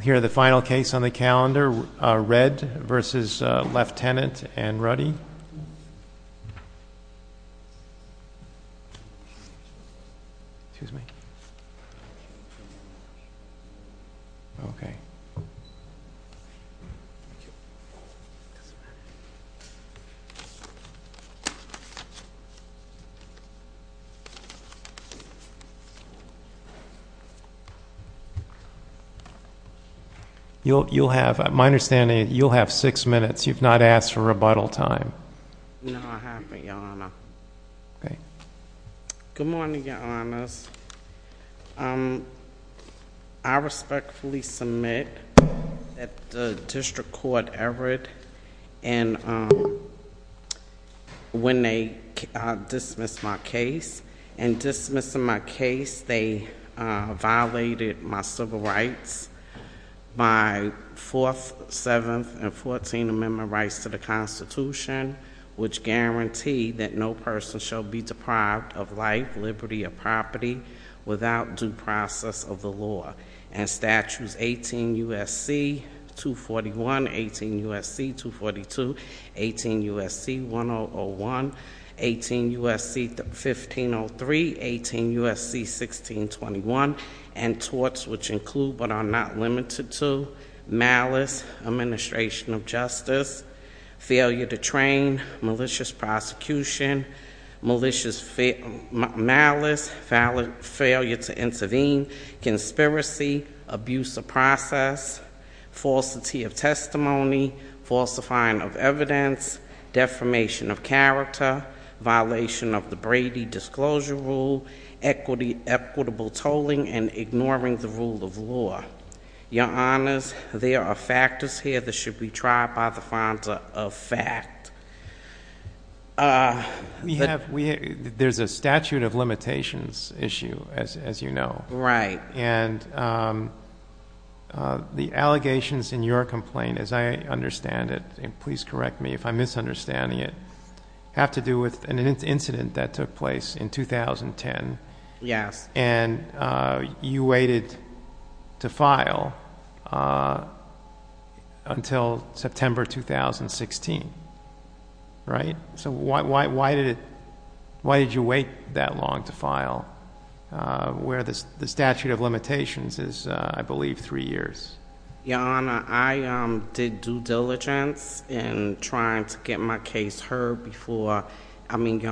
Here is the final case on the calendar, Redd v. Leftenant and Ruddy. You'll have, my understanding, you'll have six minutes. You've not asked for rebuttal time. No, I haven't, Your Honor. Okay. Good morning, Your Honors. I respectfully submit that the District Court erred when they dismissed my case. In dismissing my case, they violated my civil rights, my 4th, 7th, and 14th Amendment rights to the Constitution, which guarantee that no person shall be deprived of life, liberty, or property without due process of the law. And statutes 18 U.S.C. 241, 18 U.S.C. 242, 18 U.S.C. 1001, 18 U.S.C. 1503, 18 U.S.C. 1621, and torts which include but are not limited to malice, administration of justice, failure to train, malicious prosecution, malicious malice, failure to intervene, conspiracy, abuse of process, falsity of testimony, falsifying of evidence, defamation of character, violation of the Brady Disclosure Rule, equitable tolling, and ignoring the rule of law. Your Honors, there are factors here that should be tried by the fines of fact. We have, there's a statute of limitations issue, as you know. Right. And the allegations in your complaint, as I understand it, and please correct me if I'm misunderstanding it, have to do with an incident that took place in 2010. Yes. And you waited to file until September 2016, right? So why did you wait that long to file where the statute of limitations is, I believe, three years? Your Honor, I did due diligence in trying to get my case heard before, I mean,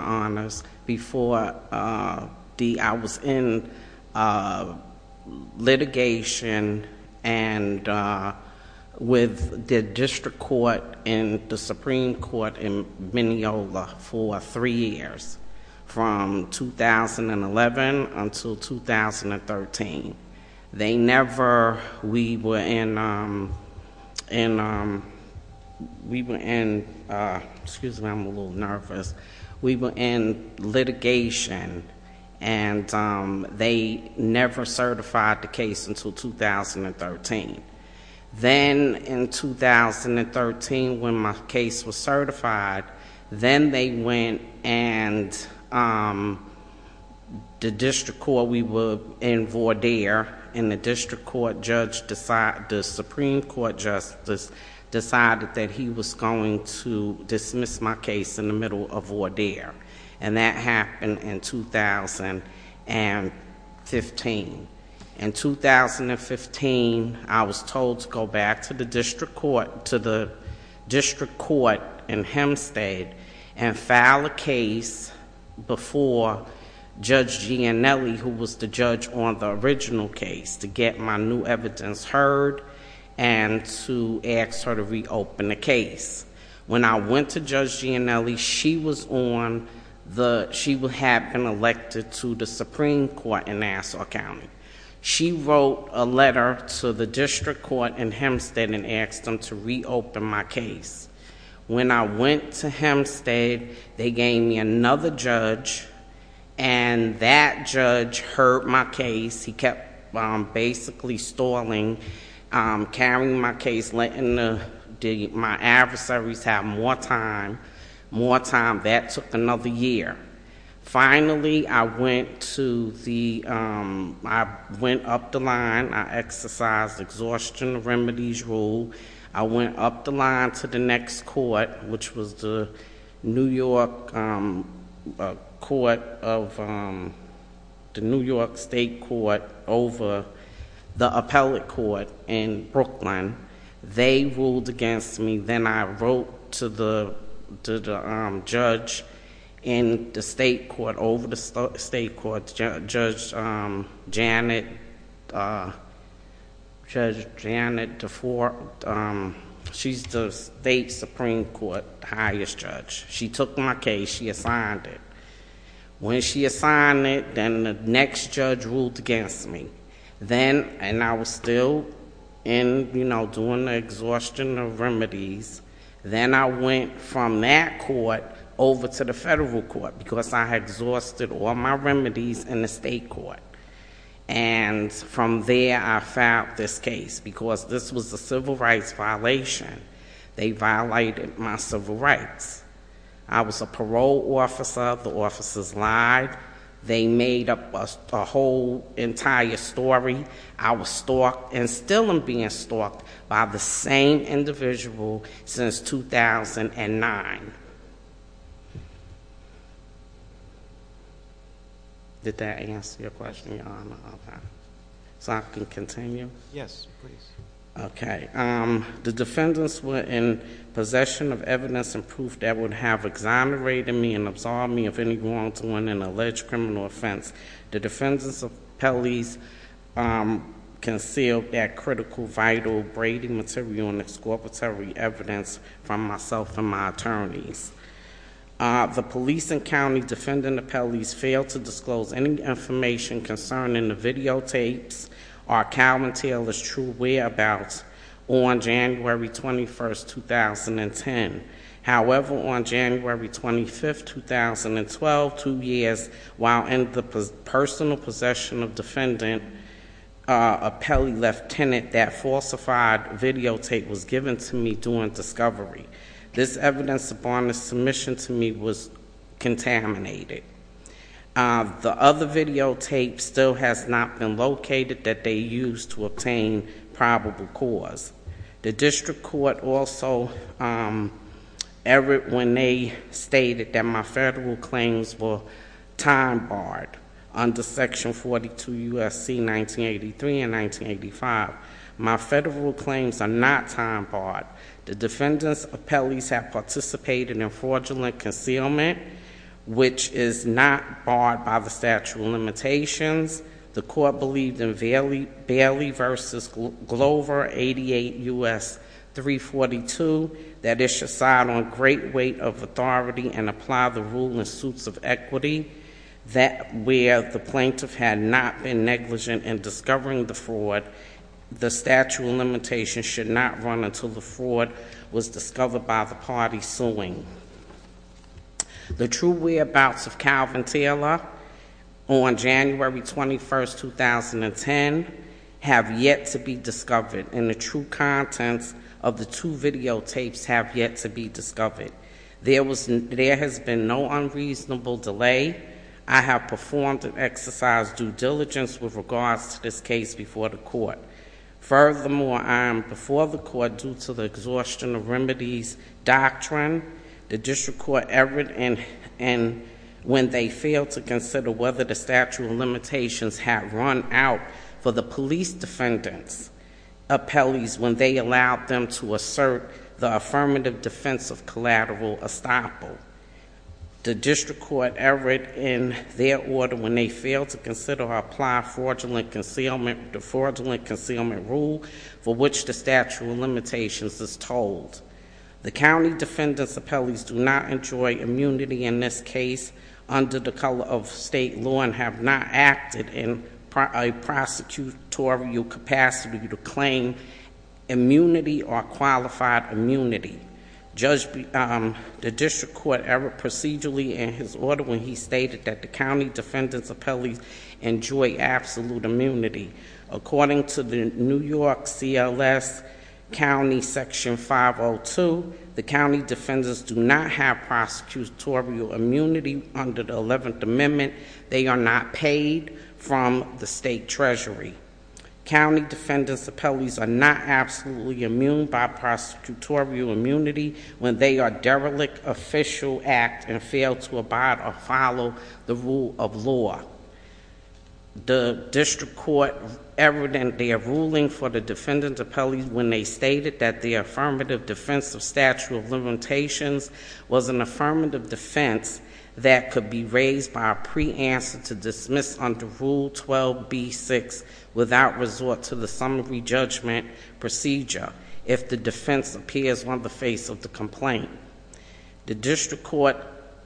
litigation and with the district court and the Supreme Court in Mineola for three years, from 2011 until 2013. They never, we were in, excuse me, I'm a little nervous. We were in litigation and they never certified the case until 2013. Then in 2013, when my case was certified, then they went and the district court, we were in Vaudeir, and the district court judge, the Supreme Court Justice decided that he was going to dismiss my case in the middle of Vaudeir. And that happened in 2015. In 2015, I was told to go back to the district court, to the district court in Hempstead and file a case before Judge Gianelli, who was the judge on the original case, to get my new evidence heard and to ask her to reopen the case. When I went to Judge Gianelli, she was on the, she had been elected to the Supreme Court in Nassau County. She wrote a letter to the district court in Hempstead and asked them to reopen my case. When I went to Hempstead, they gave me another judge, and that judge heard my case. He kept basically stalling, carrying my case, letting my adversaries have more time. More time. That took another year. Finally, I went to the, I went up the line. I exercised exhaustion remedies rule. I went up the line to the next court, which was the New York court of, the New York state court over the appellate court in Brooklyn. They ruled against me. Then I wrote to the judge in the state court, over the state court, Judge Janet, Judge Janet DeFore. She's the state Supreme Court highest judge. She took my case. She assigned it. When she assigned it, then the next judge ruled against me. Then, and I was still in, you know, doing the exhaustion of remedies. Then I went from that court over to the federal court, because I had exhausted all my remedies in the state court. And from there, I filed this case, because this was a civil rights violation. They violated my civil rights. I was a parole officer. The officers lied. They made up a whole entire story. I was stalked, and still am being stalked, by the same individual since 2009. Did that answer your question, Your Honor? Okay. So I can continue? Yes, please. Okay. The defendants were in possession of evidence and proof that would have exonerated me and absorbed me of any wrongdoing and alleged criminal offense. The defendant's appellees concealed that critical, vital, braiding material and exculpatory evidence from myself and my attorneys. The police and county defendant appellees failed to disclose any information concerning the videotapes or Calvin Taylor's true whereabouts on January 21, 2010. However, on January 25, 2012, two years while in the personal possession of defendant, a Pele lieutenant, that falsified videotape was given to me during discovery. This evidence upon its submission to me was contaminated. The other videotape still has not been located that they used to obtain probable cause. The district court also erred when they stated that my federal claims were time-barred under Section 42 U.S.C. 1983 and 1985. My federal claims are not time-barred. The defendant's appellees have participated in fraudulent concealment, which is not barred by the statute of limitations. The court believed in Bailey v. Glover 88 U.S. 342, that it should side on great weight of authority and apply the rule in suits of equity, that where the plaintiff had not been negligent in discovering the fraud, the statute of limitations should not run until the fraud was discovered by the party suing. The true whereabouts of Calvin Taylor on January 21, 2010, have yet to be discovered, and the true contents of the two videotapes have yet to be discovered. There has been no unreasonable delay. I have performed an exercise due diligence with regards to this case before the court. Furthermore, before the court, due to the exhaustion of remedies doctrine, the district court erred when they failed to consider whether the statute of limitations had run out for the police defendant's appellees when they allowed them to assert the affirmative defense of collateral estoppel. The district court erred in their order when they failed to consider or apply fraudulent concealment. The fraudulent concealment rule for which the statute of limitations is told. The county defendant's appellees do not enjoy immunity in this case under the color of state law and have not acted in a prosecutorial capacity to claim immunity or qualified immunity. The district court erred procedurally in his order when he stated that the county defendant's appellees enjoy absolute immunity. According to the New York CLS County Section 502, the county defendants do not have prosecutorial immunity under the 11th Amendment. They are not paid from the state treasury. County defendant's appellees are not absolutely immune by prosecutorial immunity when they are derelict official act and fail to abide or follow the rule of law. The district court erred in their ruling for the defendant's appellees when they stated that the affirmative defense of statute of limitations was an affirmative defense that could be raised by a pre-answer to dismiss under Rule 12b-6 without resort to the summary judgment procedure if the defense appears on the face of the complaint. The district court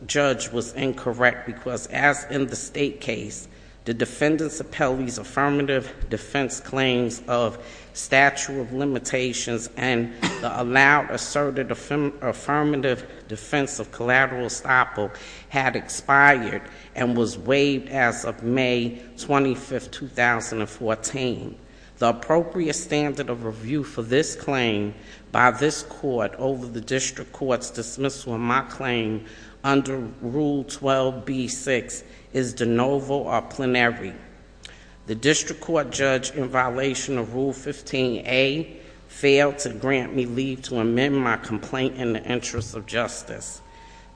judge was incorrect because as in the state case, the defendant's appellee's affirmative defense claims of statute of limitations and the allowed asserted affirmative defense of collateral estoppel had expired and was waived as of May 25, 2014. The appropriate standard of review for this claim by this court over the district court's dismissal of my claim under Rule 12b-6 is de novo or plenary. The district court judge in violation of Rule 15a failed to grant me leave to amend my complaint in the interest of justice.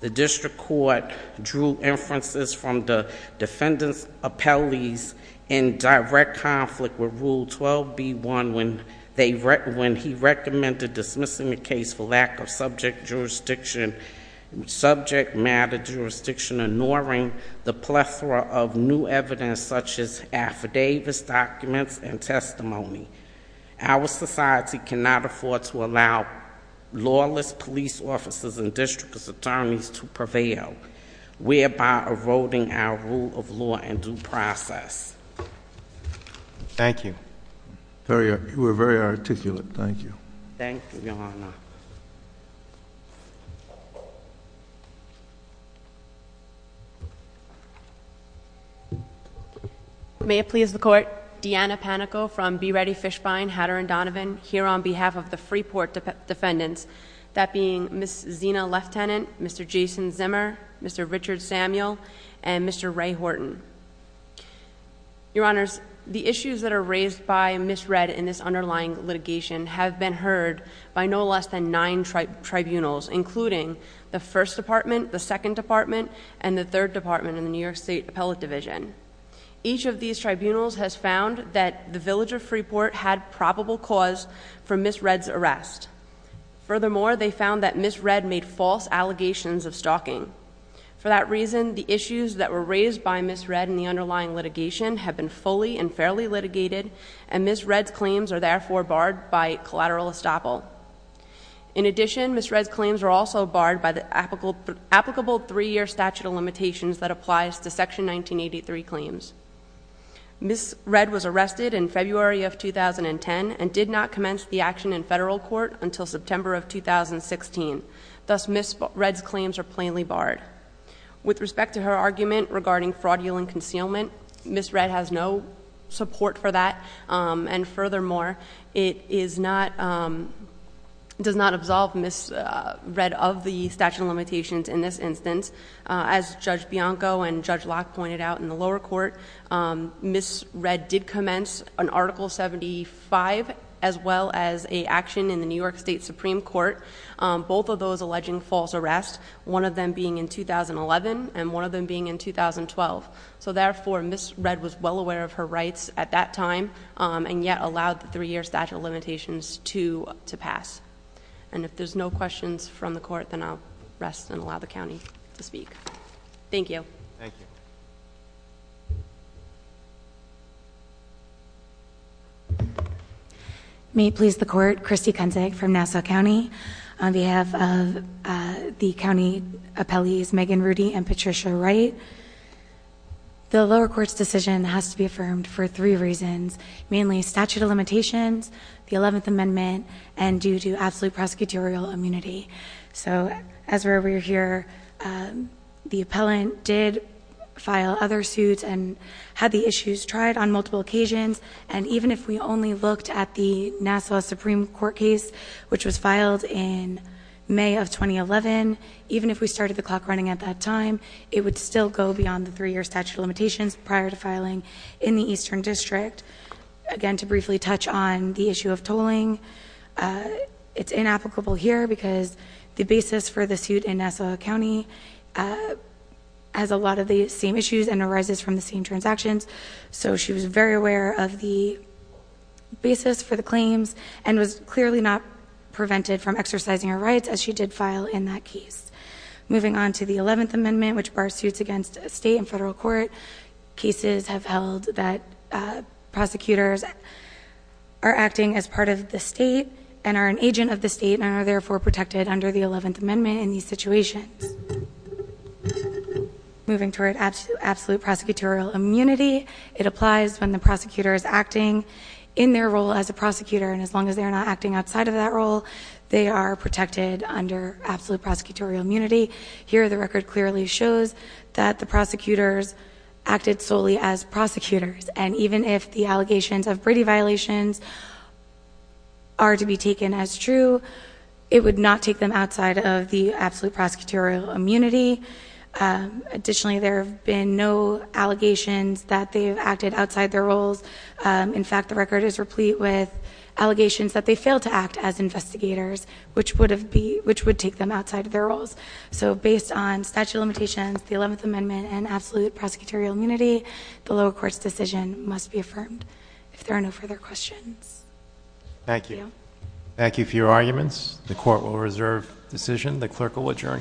The district court drew inferences from the defendant's appellees in direct conflict with Rule 12b-1 when he recommended dismissing the case for lack of subject matter jurisdiction, ignoring the plethora of new evidence such as affidavits, documents, and testimony. Our society cannot afford to allow lawless police officers and district attorneys to prevail, whereby eroding our rule of law and due process. Thank you. You were very articulate. Thank you. Thank you, Your Honor. May it please the Court, Deanna Panico from Be Ready Fishbine, Hatter and Donovan, here on behalf of the Freeport defendants, that being Ms. Zina Leftenant, Mr. Jason Zimmer, Mr. Richard Samuel, and Mr. Ray Horton. Your Honors, the issues that are raised by Ms. Red in this underlying litigation have been heard by no less than nine tribunals, including the First Department, the Second Department, and the Third Department in the New York State Appellate Division. Each of these tribunals has found that the village of Freeport had probable cause for Ms. Red's arrest. Furthermore, they found that Ms. Red made false allegations of stalking. For that reason, the issues that were raised by Ms. Red in the underlying litigation have been fully and fairly litigated, and Ms. Red's claims are therefore barred by collateral estoppel. In addition, Ms. Red's claims are also barred by the applicable three-year statute of limitations that applies to Section 1983 claims. Ms. Red was arrested in February of 2010 and did not commence the action in federal court until September of 2016. Thus, Ms. Red's claims are plainly barred. With respect to her argument regarding fraudulent concealment, Ms. Red has no support for that. And furthermore, it does not absolve Ms. Red of the statute of limitations in this instance. As Judge Bianco and Judge Locke pointed out in the lower court, Ms. Ms. Red did commence an Article 75 as well as a action in the New York State Supreme Court, both of those alleging false arrest, one of them being in 2011 and one of them being in 2012. So therefore, Ms. Red was well aware of her rights at that time and yet allowed the three-year statute of limitations to pass. And if there's no questions from the court, then I'll rest and allow the county to speak. Thank you. Thank you. May it please the court, Christy Kunzig from Nassau County. On behalf of the county appellees Megan Rudy and Patricia Wright, the lower court's decision has to be affirmed for three reasons, mainly statute of limitations, the 11th Amendment, and due to absolute prosecutorial immunity. So as we're over here, the appellant did file other suits and had the issues tried on multiple occasions. And even if we only looked at the Nassau Supreme Court case, which was filed in May of 2011, even if we started the clock running at that time, it would still go beyond the three-year statute of limitations prior to filing in the Eastern District. Again, to briefly touch on the issue of tolling, it's inapplicable here because the basis for the suit in Nassau County has a lot of the same issues and arises from the same transactions. So she was very aware of the basis for the claims and was clearly not prevented from exercising her rights as she did file in that case. Moving on to the 11th Amendment, which bars suits against a state and federal court. Cases have held that prosecutors are acting as part of the state and are an agent of the state and are therefore protected under the 11th Amendment in these situations. Moving toward absolute prosecutorial immunity, it applies when the prosecutor is acting in their role as a prosecutor. And as long as they are not acting outside of that role, they are protected under absolute prosecutorial immunity. Here, the record clearly shows that the prosecutors acted solely as prosecutors. And even if the allegations of Brady violations are to be taken as true, it would not take them outside of the absolute prosecutorial immunity. Additionally, there have been no allegations that they have acted outside their roles. In fact, the record is replete with allegations that they failed to act as investigators, which would take them outside of their roles. So based on statute of limitations, the 11th Amendment, and absolute prosecutorial immunity, the lower court's decision must be affirmed. If there are no further questions. Thank you. Thank you for your arguments. The court will reserve decision. The clerk will adjourn court.